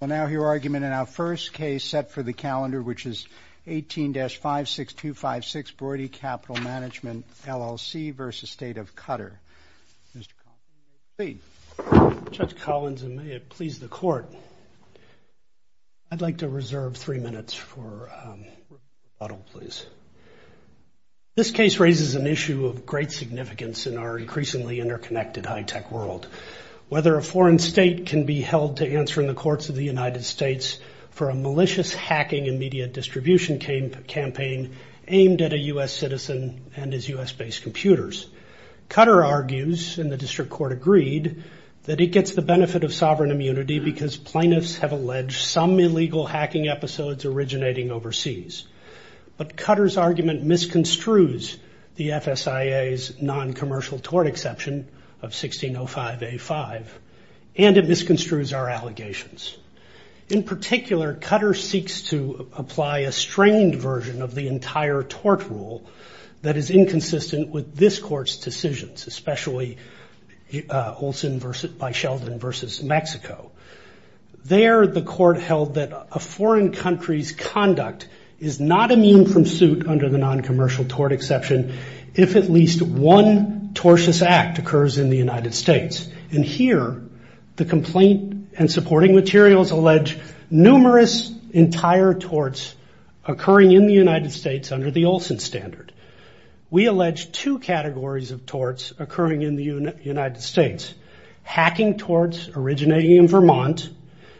Well, now your argument in our first case set for the calendar, which is 18-56256 Broidy Capital Management, LLC v. State of Qatar. Mr. Collins, you may proceed. Judge Collins, and may it please the Court, I'd like to reserve three minutes for rebuttal, please. This case raises an issue of great significance in our increasingly interconnected high-tech world. Whether a foreign state can be held to answer in the courts of the United States for a malicious hacking and media distribution campaign aimed at a U.S. citizen and his U.S.-based computers. Qatar argues, and the District Court agreed, that it gets the benefit of sovereign immunity because plaintiffs have alleged some illegal hacking episodes originating overseas. But Qatar's argument misconstrues the FSIA's non-commercial tort exception of 1605A5, and it misconstrues our allegations. In particular, Qatar seeks to apply a strained version of the entire tort rule that is inconsistent with this court's decisions, especially Olson v. Sheldon v. Mexico. There, the court held that a foreign country's conduct is not immune from suit under the non-commercial tort exception if at least one tortious act occurs in the United States. And here, the complaint and supporting materials allege numerous entire torts occurring in the United States under the Olson standard. We allege two categories of torts occurring in the United States. Hacking torts originating in Vermont,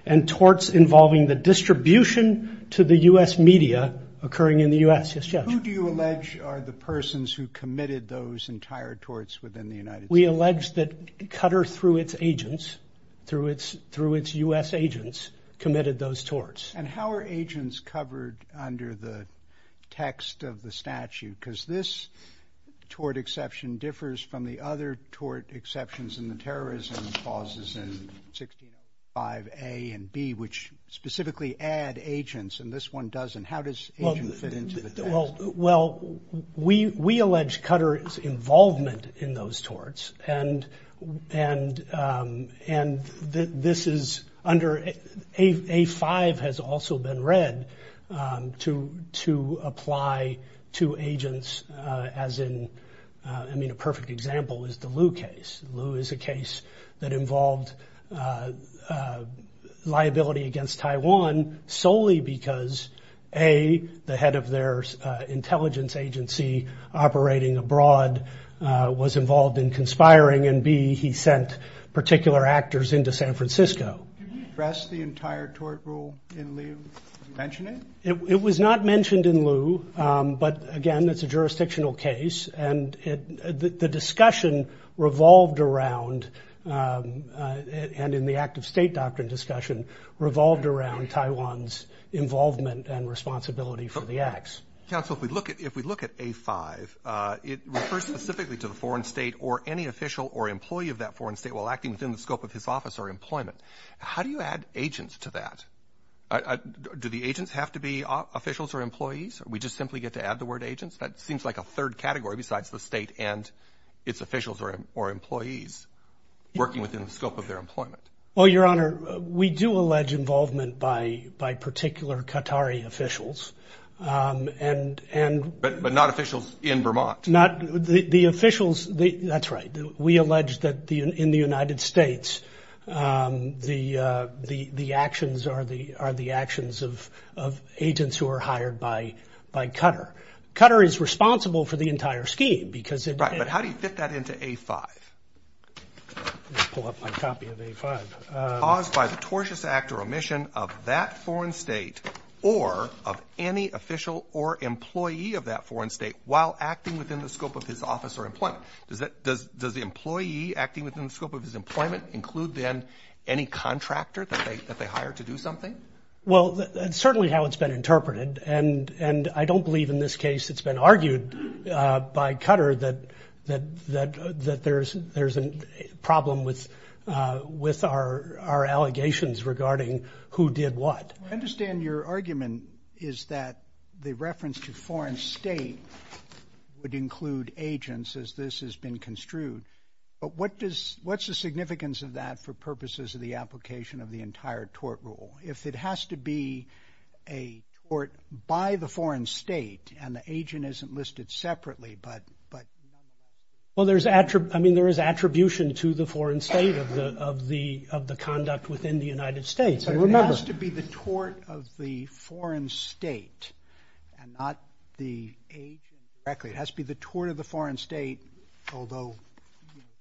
and torts involving the distribution to the U.S. media occurring in the U.S. Who do you allege are the persons who committed those entire torts within the United States? We allege that Qatar, through its agents, through its U.S. agents, committed those torts. And how are agents covered under the text of the statute? Because this tort exception differs from the other tort exceptions in the terrorism clauses in 1605A and B, which specifically add agents, and this one doesn't. How does agent fit into the text? Well, we allege Qatar's involvement in those torts, and this is under – A-5 has also been read to apply to agents as in – I mean, a perfect example is the Liu case. Liu is a case that involved liability against Taiwan solely because A, the head of their intelligence agency operating abroad was involved in conspiring, and B, he sent particular actors into San Francisco. Did you address the entire tort rule in Liu? Did you mention it? It was not mentioned in Liu, but again, it's a jurisdictional case, and the discussion revolved around – and in the act of state doctrine discussion – revolved around Taiwan's involvement and responsibility for the acts. Counsel, if we look at A-5, it refers specifically to the foreign state or any official or employee of that foreign state while acting within the scope of his office or employment. How do you add agents to that? Do the agents have to be officials or employees, or we just simply get to add the word agents? That seems like a third category besides the state and its officials or employees working within the scope of their employment. Well, Your Honor, we do allege involvement by particular Qatari officials. But not officials in Vermont. The officials – that's right. We allege that in the United States, the actions are the actions of agents who are hired by Qatar. Qatar is responsible for the entire scheme because it – Right, but how do you fit that into A-5? Let me pull up my copy of A-5. Caused by the tortious act or omission of that foreign state or of any official or employee of that foreign state while acting within the scope of his office or employment. Does the employee acting within the scope of his employment include, then, any contractor that they hire to do something? Well, that's certainly how it's been interpreted. And I don't believe in this case it's been argued by Qatar that there's a problem with our allegations regarding who did what. I understand your argument is that the reference to foreign state would include agents as this has been construed. But what's the significance of that for purposes of the application of the entire tort rule? If it has to be a tort by the foreign state and the agent isn't listed separately, but – Well, there's – I mean, there is attribution to the foreign state of the conduct within the United States, I remember. But if it has to be the tort of the foreign state and not the agent directly, it has to be the tort of the foreign state, although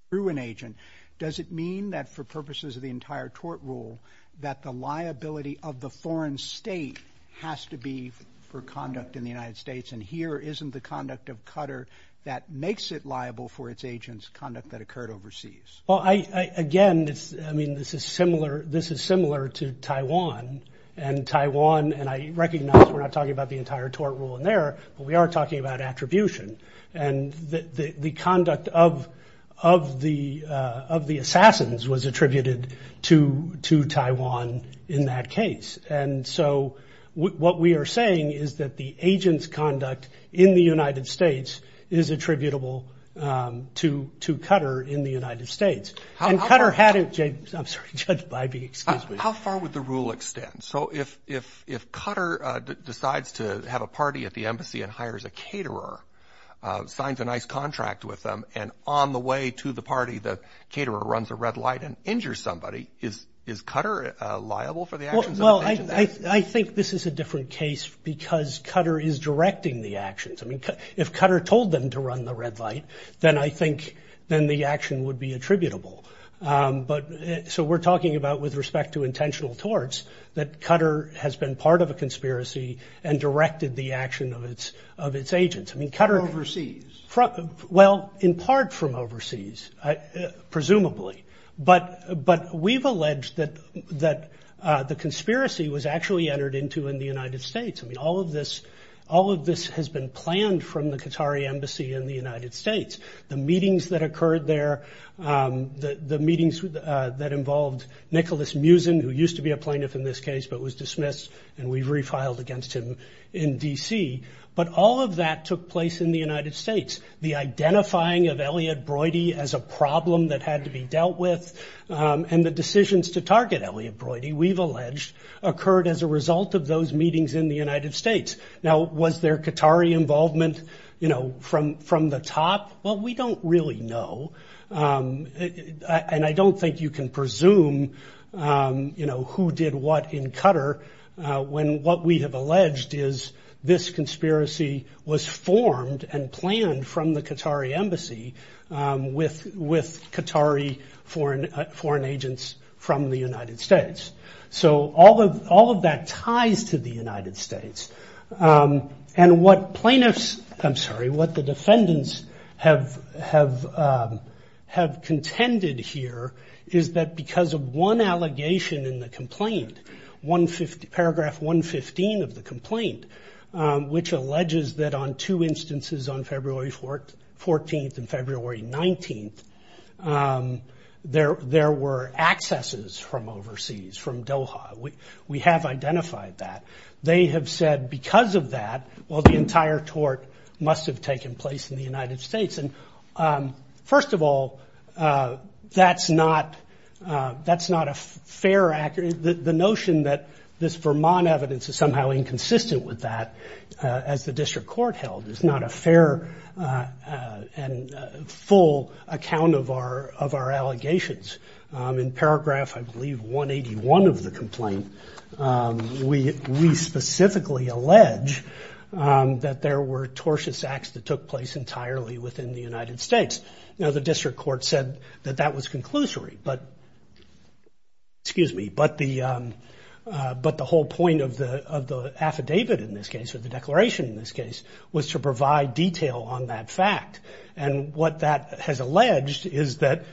through an agent, does it mean that for purposes of the entire tort rule that the liability of the foreign state has to be for conduct in the United States? And here isn't the conduct of Qatar that makes it liable for its agent's conduct that occurred overseas? Well, I – again, it's – I mean, this is similar – this is similar to Taiwan. And Taiwan – and I recognize we're not talking about the entire tort rule in there, but we are talking about attribution. And the conduct of the assassins was attributed to Taiwan in that case. And so what we are saying is that the agent's conduct in the United States is attributable to Qatar in the United States. And Qatar had – I'm sorry, Judge Bybee, excuse me. How far would the rule extend? So if Qatar decides to have a party at the embassy and hires a caterer, signs a nice contract with them, and on the way to the party the caterer runs a red light and injures somebody, is Qatar liable for the actions of the agent? Well, I think this is a different case because Qatar is directing the actions. I mean, if Qatar told them to run the red light, then I think – then the action would be attributable. But – so we're talking about, with respect to intentional torts, that Qatar has been part of a conspiracy and directed the action of its agents. I mean, Qatar – From overseas. Well, in part from overseas, presumably. But we've alleged that the conspiracy was actually entered into in the United States. I mean, all of this – all of this has been planned from the Qatari embassy in the United States. The meetings that occurred there, the meetings that involved Nicholas Muzin, who used to be a plaintiff in this case but was dismissed, and we've refiled against him in D.C. But all of that took place in the United States. The identifying of Elliot Broidy as a problem that had to be dealt with and the decisions to target Elliot Broidy, we've alleged, occurred as a result of those meetings in the United States. Now, was there Qatari involvement, you know, from the top? Well, we don't really know, and I don't think you can presume, you know, who did what in Qatar when what we have alleged is this conspiracy was formed and planned from the Qatari embassy with Qatari foreign agents from the United States. So all of that ties to the United States. And what plaintiffs – I'm sorry, what the defendants have contended here is that because of one allegation in the complaint, paragraph 115 of the complaint, which alleges that on two instances on February 14th and February 19th, there were accesses from overseas, from Doha. We have identified that. They have said because of that, well, the entire tort must have taken place in the United States. And first of all, that's not a fair – the notion that this Vermont evidence is somehow inconsistent with that, as the district court held, is not a fair and full account of our allegations. In paragraph, I believe, 181 of the complaint, we specifically allege that there were tortious acts that took place entirely within the United States. Now, the district court said that that was conclusory, but – excuse me – but the whole point of the affidavit in this case, or the declaration in this case, was to provide detail on that fact. And what that has alleged is that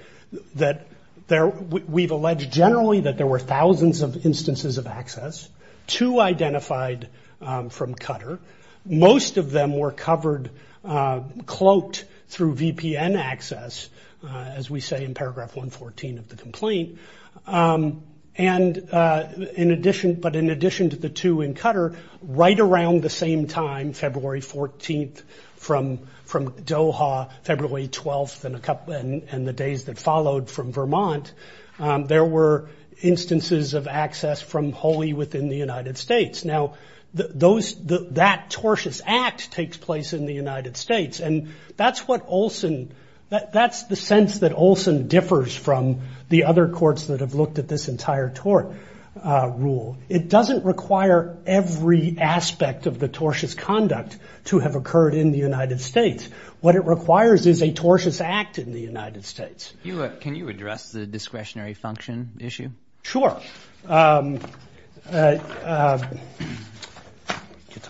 we've alleged generally that there were thousands of instances of access, two identified from Qatar. Most of them were covered – cloaked through VPN access, as we say in paragraph 114 of the complaint. And in addition – but in addition to the two in Qatar, right around the same time, February 14th from Doha, February 12th, and a couple – and the days that followed from Vermont, there were instances of access from wholly within the United States. Now, those – that tortious act takes place in the United States, and that's what Olson – that's the sense that Olson differs from the other courts that have looked at this entire tort rule. It doesn't require every aspect of the tortious conduct to have occurred in the United States. What it requires is a tortious act in the United States. Can you address the discretionary function issue? Sure. Get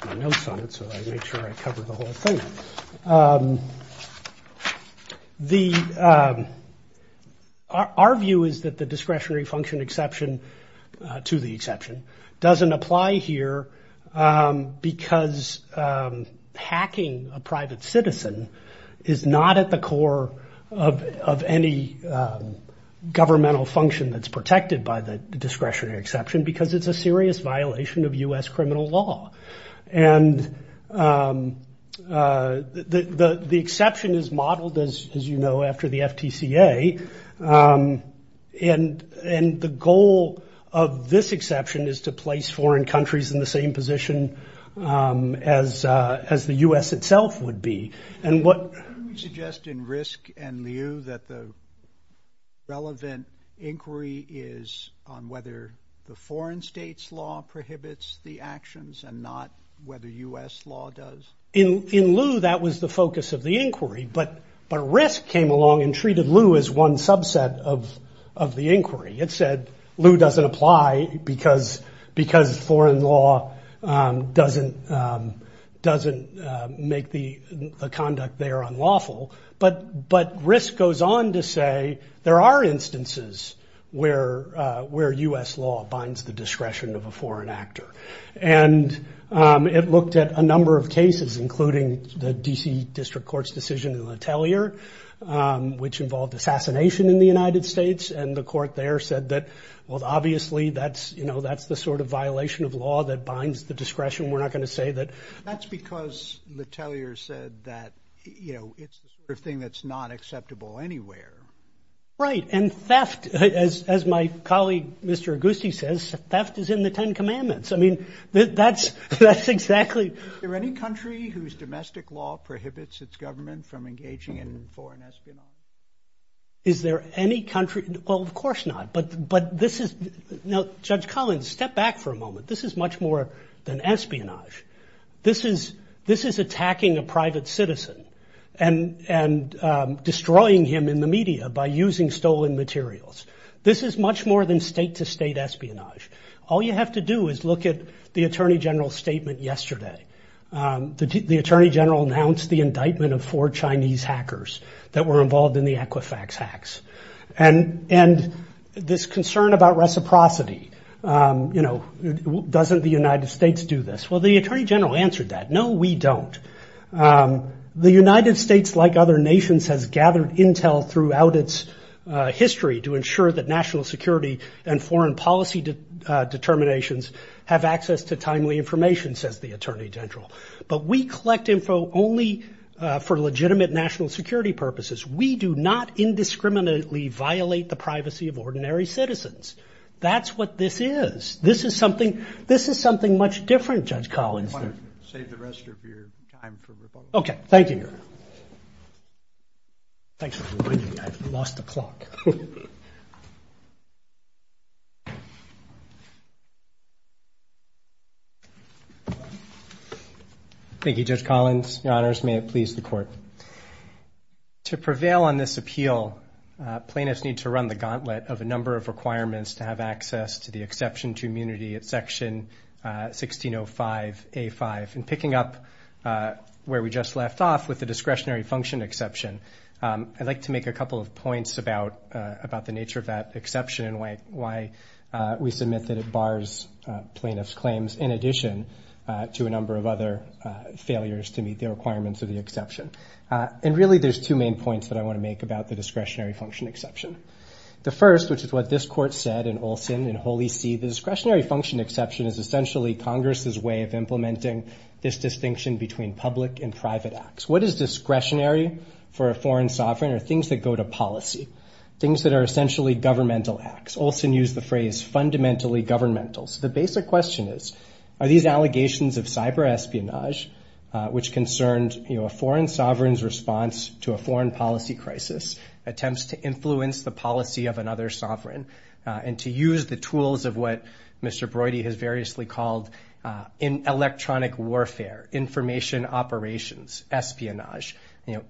my notes on it so I make sure I cover the whole thing. The – our view is that the discretionary function exception to the exception doesn't apply here because hacking a private citizen is not at the core of any governmental function that's protected by the discretionary exception because it's a serious violation of U.S. criminal law. And the exception is modeled, as you know, after the FTCA, and the goal of this exception is to place foreign countries in the same position as the U.S. itself would be. And what – We suggest in RISC and LIU that the relevant inquiry is on whether the foreign states' law prohibits the actions and not whether U.S. law does. In LIU, that was the focus of the inquiry, but RISC came along and treated LIU as one subset of the inquiry. It said LIU doesn't apply because foreign law doesn't make the conduct there unlawful, but RISC goes on to say there are instances where U.S. law binds the discretion of a foreign actor. And it looked at a number of cases, including the D.C. District Court's decision in LaTellier, which involved assassination in the United States. And the court there said that, well, obviously that's the sort of violation of law that binds the discretion. We're not going to say that. That's because LaTellier said that, you know, it's the sort of thing that's not acceptable anywhere. Right, and theft, as my colleague, Mr. Auguste, says, theft is in the Ten Commandments. I mean, that's exactly. Is there any country whose domestic law prohibits its government from engaging in foreign espionage? Is there any country? Well, of course not. But this is, now, Judge Collins, step back for a moment. This is much more than espionage. This is attacking a private citizen and destroying him in the media by using stolen materials. This is much more than state-to-state espionage. All you have to do is look at the Attorney General's statement yesterday. The Attorney General announced the indictment of four Chinese hackers that were involved in the Equifax hacks. And this concern about reciprocity, you know, doesn't the United States do this? Well, the Attorney General answered that. No, we don't. The United States, like other nations, has gathered intel throughout its history to ensure that national security and foreign policy determinations have access to timely information, says the Attorney General. But we collect info only for legitimate national security purposes. We do not indiscriminately violate the privacy of ordinary citizens. That's what this is. This is something much different, Judge Collins. I want to save the rest of your time for Republicans. Okay, thank you. Thanks for reminding me. I've lost the clock. Thank you, Judge Collins. Your Honors, may it please the Court. To prevail on this appeal, plaintiffs need to run the gauntlet of a number of requirements to have access to the exception to immunity at Section 1605A5. In picking up where we just left off with the discretionary function exception, I'd like to make a couple of points about the nature of that exception and why we submit that it bars plaintiffs' claims in addition to a number of other failures to meet the requirements of the exception. And really there's two main points that I want to make about the discretionary function exception. The first, which is what this Court said in Olson and Holy See, the discretionary function exception is essentially Congress' way of implementing this distinction between public and private acts. What is discretionary for a foreign sovereign are things that go to policy, things that are essentially governmental acts. Olson used the phrase fundamentally governmental. So the basic question is, are these allegations of cyber espionage, which concerned a foreign sovereign's response to a foreign policy crisis, attempts to influence the policy of another sovereign, and to use the tools of what Mr. Brody has variously called electronic warfare, information operations, espionage.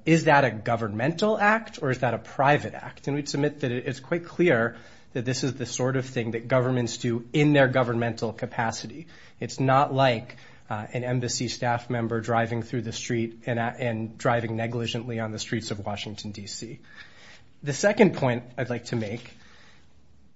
Is that a governmental act or is that a private act? And we submit that it's quite clear that this is the sort of thing that governments do in their governmental capacity. It's not like an embassy staff member driving through the street and driving negligently on the streets of Washington, D.C. The second point I'd like to make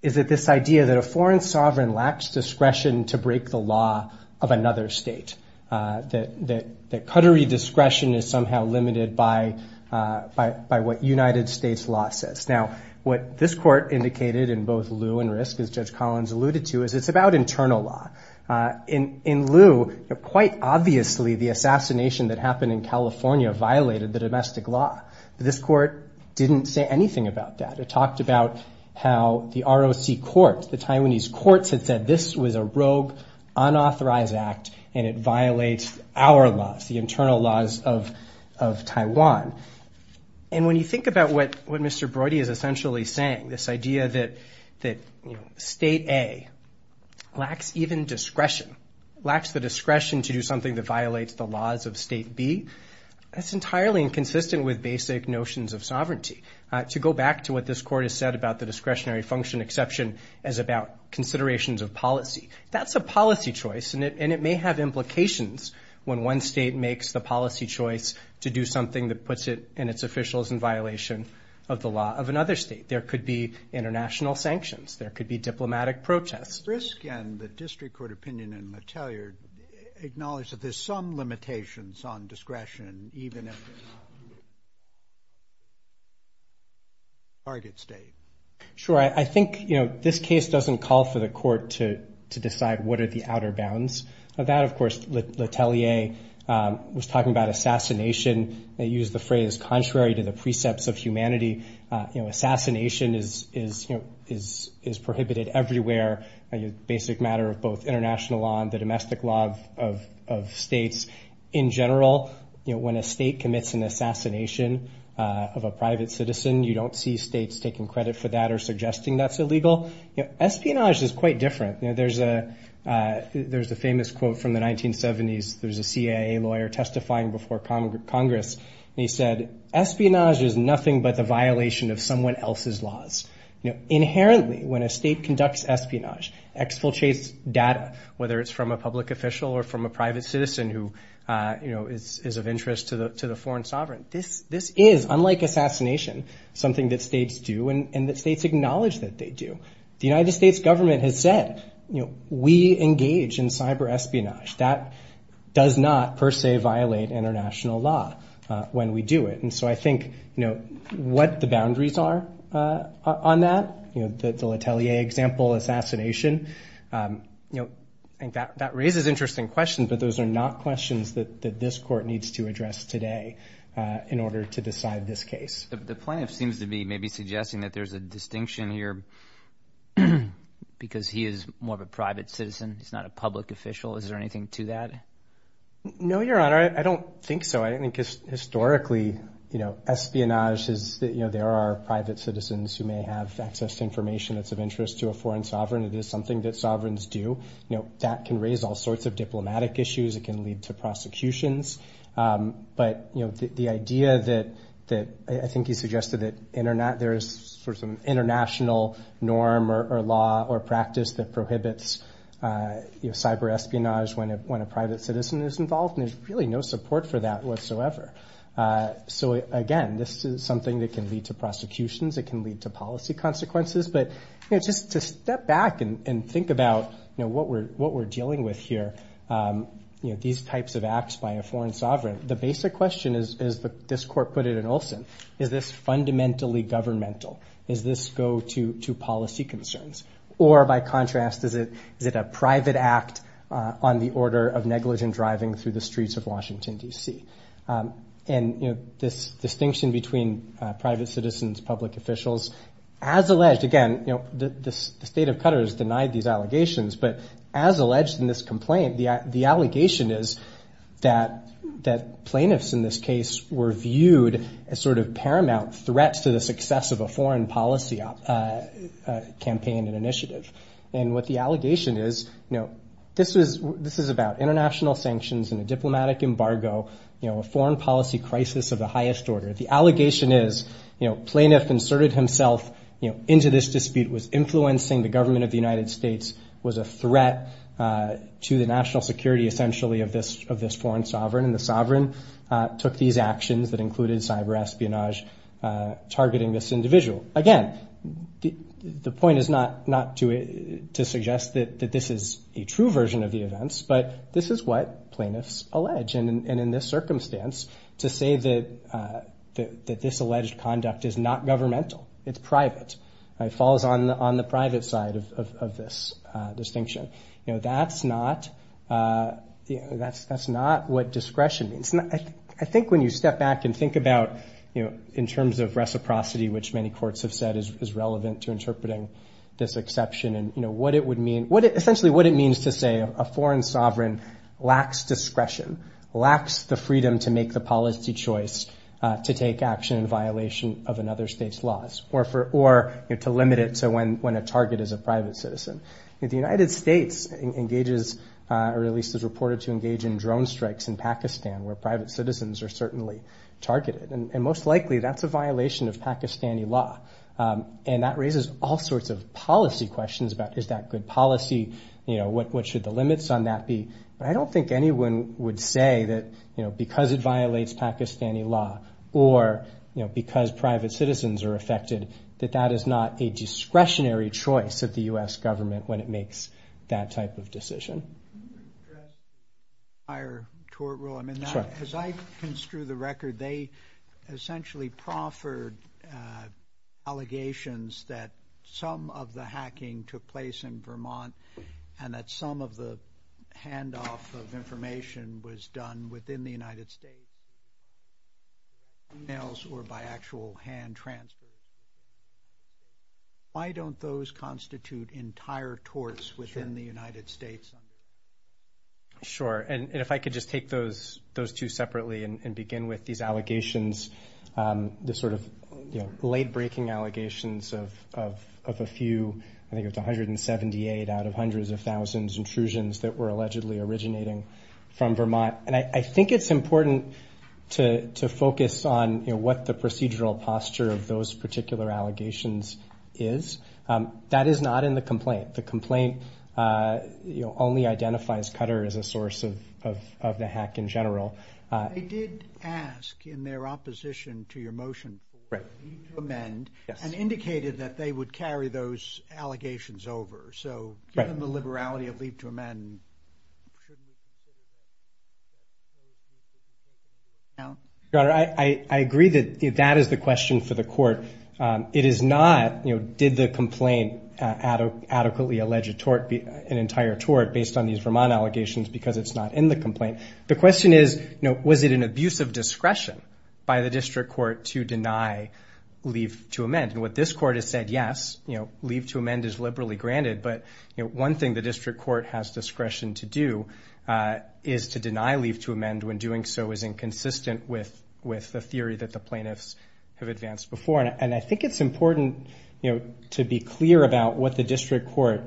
is that this idea that a foreign sovereign lacks discretion to break the law of another state, that Qatari discretion is somehow limited by what United States law says. Now, what this Court indicated in both Lew and Risk, as Judge Collins alluded to, is it's about internal law. In Lew, quite obviously the assassination that happened in California violated the domestic law. This Court didn't say anything about that. It talked about how the ROC courts, the Taiwanese courts, had said this was a rogue, unauthorized act and it violates our laws, the internal laws of Taiwan. And when you think about what Mr. Brody is essentially saying, this idea that State A lacks even discretion, lacks the discretion to do something that violates the laws of State B, that's entirely inconsistent with basic notions of sovereignty. To go back to what this Court has said about the discretionary function exception as about considerations of policy, that's a policy choice, and it may have implications when one state makes the policy choice to do something that puts it and its officials in violation of the law of another state. There could be international sanctions. There could be diplomatic protests. Risk and the District Court opinion in Mattelier acknowledged that there's some limitations on discretion even if it's not a target state. Sure. I think this case doesn't call for the Court to decide what are the outer bounds of that. Of course, Mattelier was talking about assassination. They used the phrase contrary to the precepts of humanity. Assassination is prohibited everywhere. It's a basic matter of both international law and the domestic law of states. In general, when a state commits an assassination of a private citizen, you don't see states taking credit for that or suggesting that's illegal. Espionage is quite different. There's a famous quote from the 1970s. There's a CIA lawyer testifying before Congress, and he said, espionage is nothing but the violation of someone else's laws. Inherently, when a state conducts espionage, exfiltrates data, whether it's from a public official or from a private citizen who is of interest to the foreign sovereign, this is, unlike assassination, something that states do and that states acknowledge that they do. The United States government has said, we engage in cyber espionage. That does not per se violate international law when we do it. And so I think, you know, what the boundaries are on that, you know, the Latelier example, assassination. You know, that raises interesting questions, but those are not questions that this court needs to address today in order to decide this case. The plaintiff seems to be maybe suggesting that there's a distinction here because he is more of a private citizen. He's not a public official. Is there anything to that? No, Your Honor. I don't think so. I think historically, you know, espionage is that, you know, there are private citizens who may have access to information that's of interest to a foreign sovereign. It is something that sovereigns do. You know, that can raise all sorts of diplomatic issues. It can lead to prosecutions. But, you know, the idea that I think you suggested that there is sort of an international norm or law or practice that prohibits cyber espionage when a private citizen is involved, and there's really no support for that whatsoever. So, again, this is something that can lead to prosecutions. It can lead to policy consequences. But, you know, just to step back and think about, you know, what we're dealing with here, you know, these types of acts by a foreign sovereign, the basic question, as this court put it in Olson, is this fundamentally governmental? Does this go to policy concerns? Or, by contrast, is it a private act on the order of negligent driving through the streets of Washington, D.C.? And, you know, this distinction between private citizens, public officials, as alleged, again, you know, the state of Qatar has denied these allegations, but as alleged in this complaint, the allegation is that plaintiffs in this case were viewed as sort of paramount threats to the success of a foreign policy campaign and initiative. And what the allegation is, you know, this is about international sanctions and a diplomatic embargo, you know, a foreign policy crisis of the highest order. The allegation is, you know, plaintiff inserted himself, you know, into this dispute was influencing the government of the United States, was a threat to the national security, essentially, of this foreign sovereign, and the sovereign took these actions that included cyber espionage, targeting this individual. Again, the point is not to suggest that this is a true version of the events, but this is what plaintiffs allege. And in this circumstance, to say that this alleged conduct is not governmental, it's private, it falls on the private side of this distinction. You know, that's not what discretion means. I think when you step back and think about, you know, in terms of reciprocity, which many courts have said is relevant to interpreting this exception and, you know, what it would mean, essentially what it means to say a foreign sovereign lacks discretion, lacks the freedom to make the policy choice to take action in violation of another state's laws, or to limit it to when a target is a private citizen. The United States engages, or at least is reported to engage in drone strikes in Pakistan, where private citizens are certainly targeted, and most likely that's a violation of Pakistani law, and that raises all sorts of policy questions about is that good policy, you know, what should the limits on that be. But I don't think anyone would say that, you know, because it violates Pakistani law, or, you know, because private citizens are affected, that that is not a discretionary choice of the U.S. government when it makes that type of decision. Can you address the entire tort rule? I mean, as I construe the record, they essentially proffered allegations that some of the hacking took place in Vermont and that some of the handoff of information was done within the United States by e-mails or by actual hand transfers. Why don't those constitute entire torts within the United States? Sure. And if I could just take those two separately and begin with these allegations, the sort of late-breaking allegations of a few, I think it's 178 out of hundreds of thousands, intrusions that were allegedly originating from Vermont. And I think it's important to focus on, you know, what the procedural posture of those particular allegations is. That is not in the complaint. The complaint, you know, only identifies Qatar as a source of the hack in general. They did ask in their opposition to your motion for leave to amend and indicated that they would carry those allegations over. So given the liberality of leave to amend. Your Honor, I agree that that is the question for the court. It is not, you know, did the complaint adequately allege an entire tort based on these Vermont allegations because it's not in the complaint. The question is, you know, was it an abuse of discretion by the district court to deny leave to amend? And what this court has said, yes, you know, leave to amend is liberally granted. But one thing the district court has discretion to do is to deny leave to amend when doing so is inconsistent with the theory that the plaintiffs have advanced before. And I think it's important to be clear about what the district court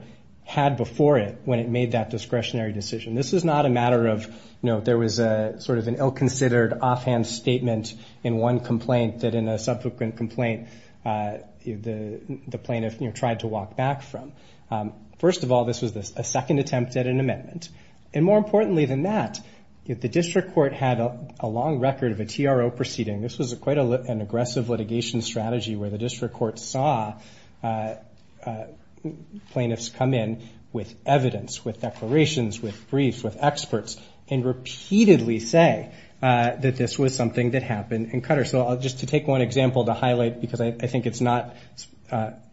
had before it when it made that discretionary decision. This is not a matter of, you know, there was a sort of an ill-considered offhand statement in one complaint that in a subsequent complaint the plaintiff tried to walk back from. First of all, this was a second attempt at an amendment. And more importantly than that, the district court had a long record of a TRO proceeding. This was quite an aggressive litigation strategy where the district court saw plaintiffs come in with evidence, with declarations, with briefs, with experts, and repeatedly say that this was something that happened in Qatar. So just to take one example to highlight, because I think it's not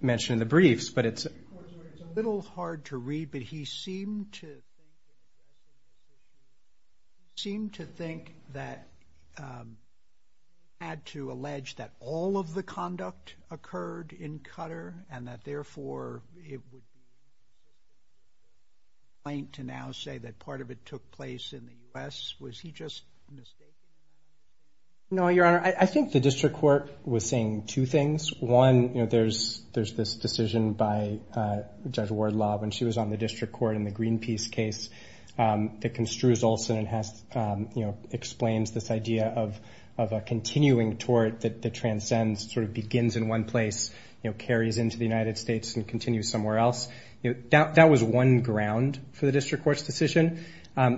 mentioned in the briefs, but it's. It's a little hard to read, but he seemed to. Seemed to think that. Had to allege that all of the conduct occurred in Qatar and that therefore it would be. Plain to now say that part of it took place in the U.S. Was he just. No, Your Honor, I think the district court was saying two things. One, you know, there's there's this decision by Judge Wardlaw when she was on the district court in the Greenpeace case that construes Olson and has, you know, explains this idea of of a continuing tort that transcends, sort of begins in one place, you know, carries into the United States and continues somewhere else. That was one ground for the district court's decision. But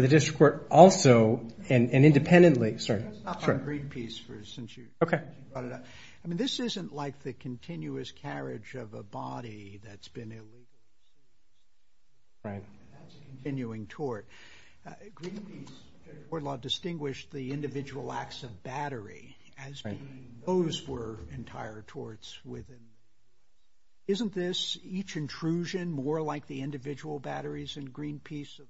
the district court also and independently. Sorry. Greenpeace for since you. OK. I mean, this isn't like the continuous carriage of a body that's been. Right. Continuing toward Greenpeace. Wardlaw distinguished the individual acts of battery as those were entire torts with. Isn't this each intrusion more like the individual batteries in Greenpeace?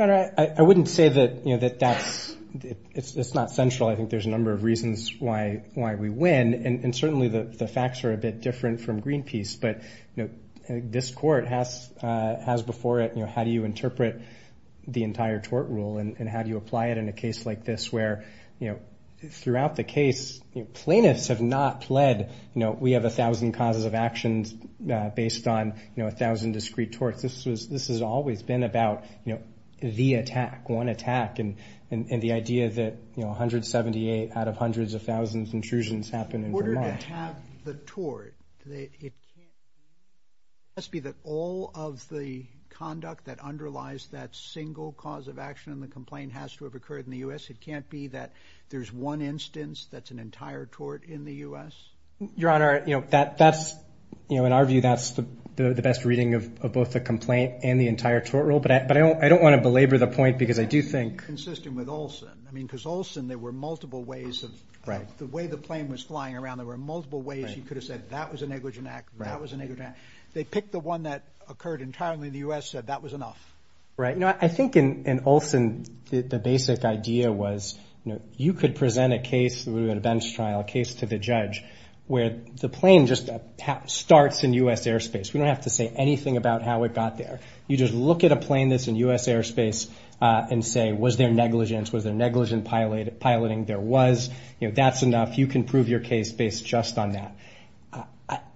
I wouldn't say that, you know, that that's it's not central. I think there's a number of reasons why why we win. And certainly the facts are a bit different from Greenpeace. But, you know, this court has has before it. How do you interpret the entire tort rule and how do you apply it in a case like this where, you know, throughout the case, plaintiffs have not pled. You know, we have a thousand causes of actions based on, you know, a thousand discrete torts. This was this has always been about, you know, the attack, one attack and the idea that, you know, 178 out of hundreds of thousands intrusions happen. In order to have the tort, it must be that all of the conduct that underlies that single cause of action in the complaint has to have occurred in the U.S. It can't be that there's one instance that's an entire tort in the U.S. Your Honor, you know, that that's, you know, in our view, that's the best reading of both the complaint and the entire tort rule. But I don't I don't want to belabor the point because I do think. Consistent with Olson. I mean, because Olson, there were multiple ways of the way the plane was flying around. There were multiple ways you could have said that was a negligent act. That was a negative act. They picked the one that occurred entirely. The U.S. said that was enough. Right now, I think in Olson, the basic idea was, you know, you could present a case through an events trial case to the judge where the plane just starts in U.S. airspace. We don't have to say anything about how it got there. You just look at a plane that's in U.S. airspace and say, was there negligence? Was there negligent pilot piloting? There was. You know, that's enough. You can prove your case based just on that.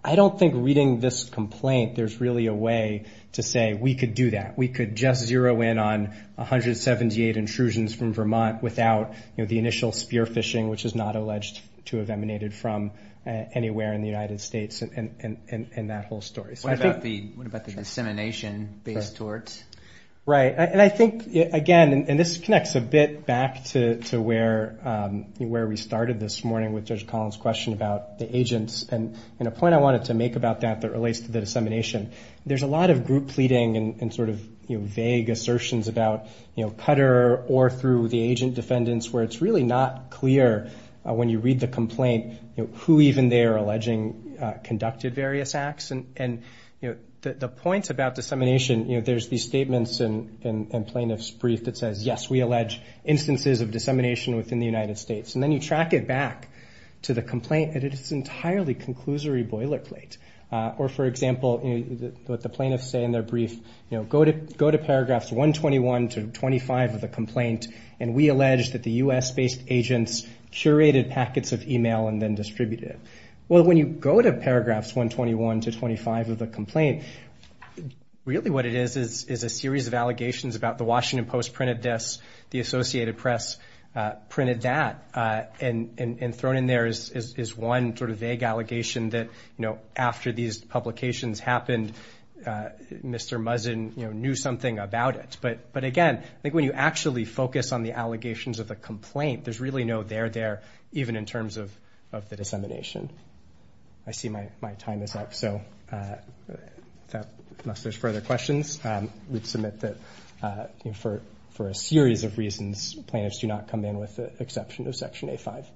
I don't think reading this complaint, there's really a way to say we could do that. We could just zero in on one hundred seventy eight intrusions from Vermont without the initial spear phishing, which is not alleged to have emanated from anywhere in the United States. And that whole story. What about the dissemination based torts? Right. And I think, again, and this connects a bit back to where where we started this morning with Judge Collins question about the agents. And a point I wanted to make about that that relates to the dissemination. There's a lot of group pleading and sort of vague assertions about, you know, And, you know, the point about dissemination, you know, there's these statements and plaintiff's brief that says, yes, we allege instances of dissemination within the United States. And then you track it back to the complaint and it's entirely conclusory boilerplate. Or, for example, what the plaintiffs say in their brief, you know, go to go to paragraphs one twenty one to twenty five of the complaint. And we allege that the U.S. based agents curated packets of email and then distributed. Well, when you go to paragraphs one twenty one to twenty five of the complaint, really what it is is is a series of allegations about the Washington Post printed this. The Associated Press printed that and thrown in there is one sort of vague allegation that, you know, after these publications happened, Mr. Muzzin knew something about it. But but again, I think when you actually focus on the allegations of the complaint, there's really no there there, even in terms of of the dissemination. I see my my time is up. So unless there's further questions, we'd submit that for for a series of reasons, plaintiffs do not come in with the exception of Section eight five.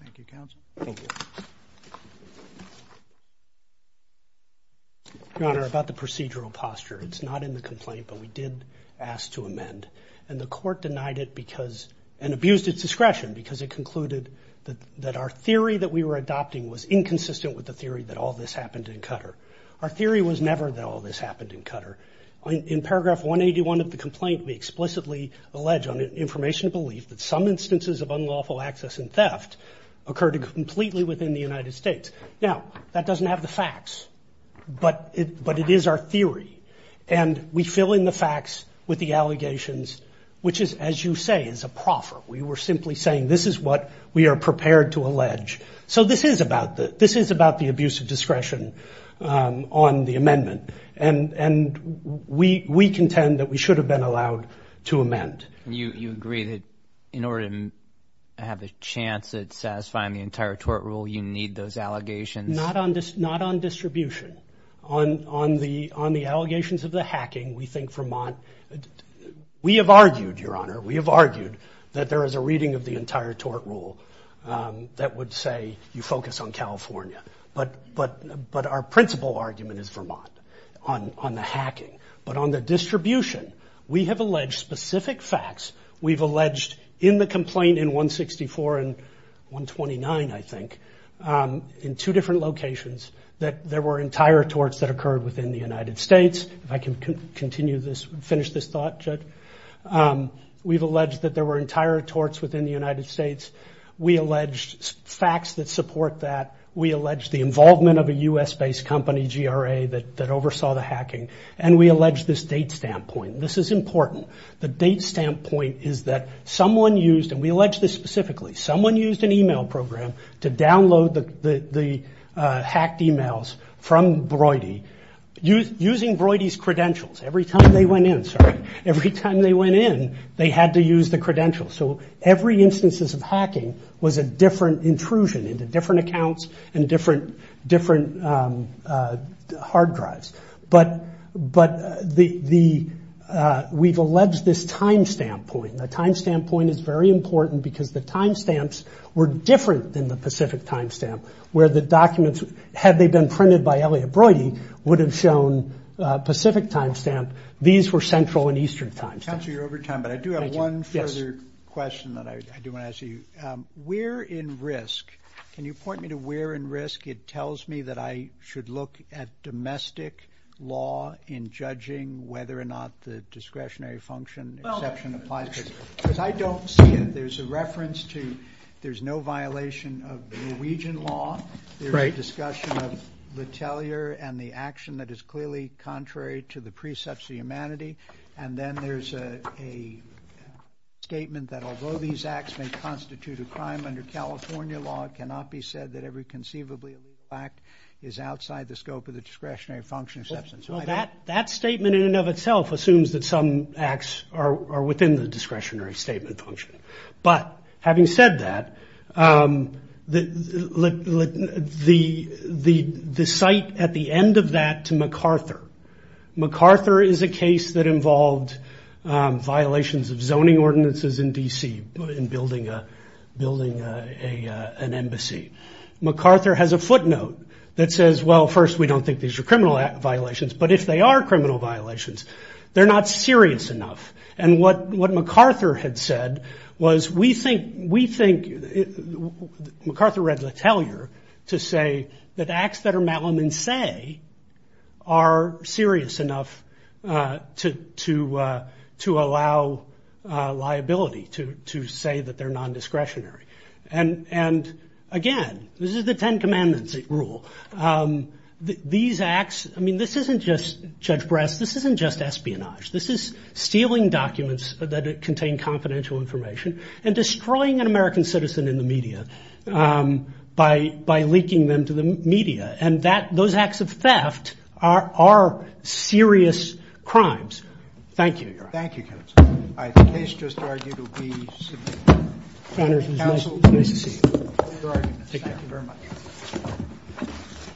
Thank you. Thank you. Your Honor, about the procedural posture, it's not in the complaint, but we did ask to amend and the court denied it because and abused its discretion because it concluded that that our theory that we were adopting was inconsistent with the theory that all this happened in Qatar. Our theory was never that all this happened in Qatar. In paragraph one eighty one of the complaint, we explicitly allege on information, a belief that some instances of unlawful access and theft occurred completely within the United States. Now, that doesn't have the facts, but but it is our theory. And we fill in the facts with the allegations, which is, as you say, is a proffer. We were simply saying this is what we are prepared to allege. So this is about that. This is about the abuse of discretion on the amendment. And and we we contend that we should have been allowed to amend. You agree that in order to have a chance at satisfying the entire tort rule, you need those allegations. Not on this, not on distribution, on on the on the allegations of the hacking. We think Vermont. We have argued, Your Honor. We have argued that there is a reading of the entire tort rule that would say you focus on California. But but but our principal argument is Vermont on on the hacking. But on the distribution, we have alleged specific facts. We've alleged in the complaint in one sixty four and one twenty nine, I think, in two different locations, that there were entire torts that occurred within the United States. If I can continue this, finish this thought. We've alleged that there were entire torts within the United States. We allege facts that support that. We allege the involvement of a U.S. based company, G.R.A., that that oversaw the hacking. And we allege this date standpoint. This is important. The date standpoint is that someone used and we allege this specifically. Someone used an email program to download the hacked emails from Brody. Using Brody's credentials every time they went in. Sorry. Every time they went in, they had to use the credentials. So every instances of hacking was a different intrusion into different accounts and different different hard drives. But but the the we've alleged this timestamp point, the timestamp point is very important because the timestamps were different than the Pacific timestamp, where the documents, had they been printed by Elliott Brody, would have shown Pacific timestamp. These were central and eastern time. Chancellor, you're over time, but I do have one further question that I do want to ask you. We're in risk. Can you point me to where in risk? It tells me that I should look at domestic law in judging whether or not the discretionary function exception applies. Because I don't see it. There's a reference to there's no violation of Norwegian law. Right. Discussion of the teller and the action that is clearly contrary to the precepts of humanity. And then there's a statement that although these acts may constitute a crime under California law, it cannot be said that every conceivably fact is outside the scope of the discretionary function of substance. Well, that that statement in and of itself assumes that some acts are within the discretionary statement function. But having said that, the site at the end of that to MacArthur. MacArthur is a case that involved violations of zoning ordinances in D.C. in building an embassy. MacArthur has a footnote that says, well, first, we don't think these are criminal violations, but if they are criminal violations, they're not serious enough. And what what MacArthur had said was, we think we think MacArthur read the teller to say that acts that are Malam and say, are serious enough to to to allow liability to to say that they're nondiscretionary. And and again, this is the Ten Commandments rule. These acts. I mean, this isn't just Judge Breast. This isn't just espionage. This is stealing documents that contain confidential information and destroying an American citizen in the media by by leaking them to the media. And that those acts of theft are are serious crimes. Thank you. Thank you. I just argued to be. Thank you very much.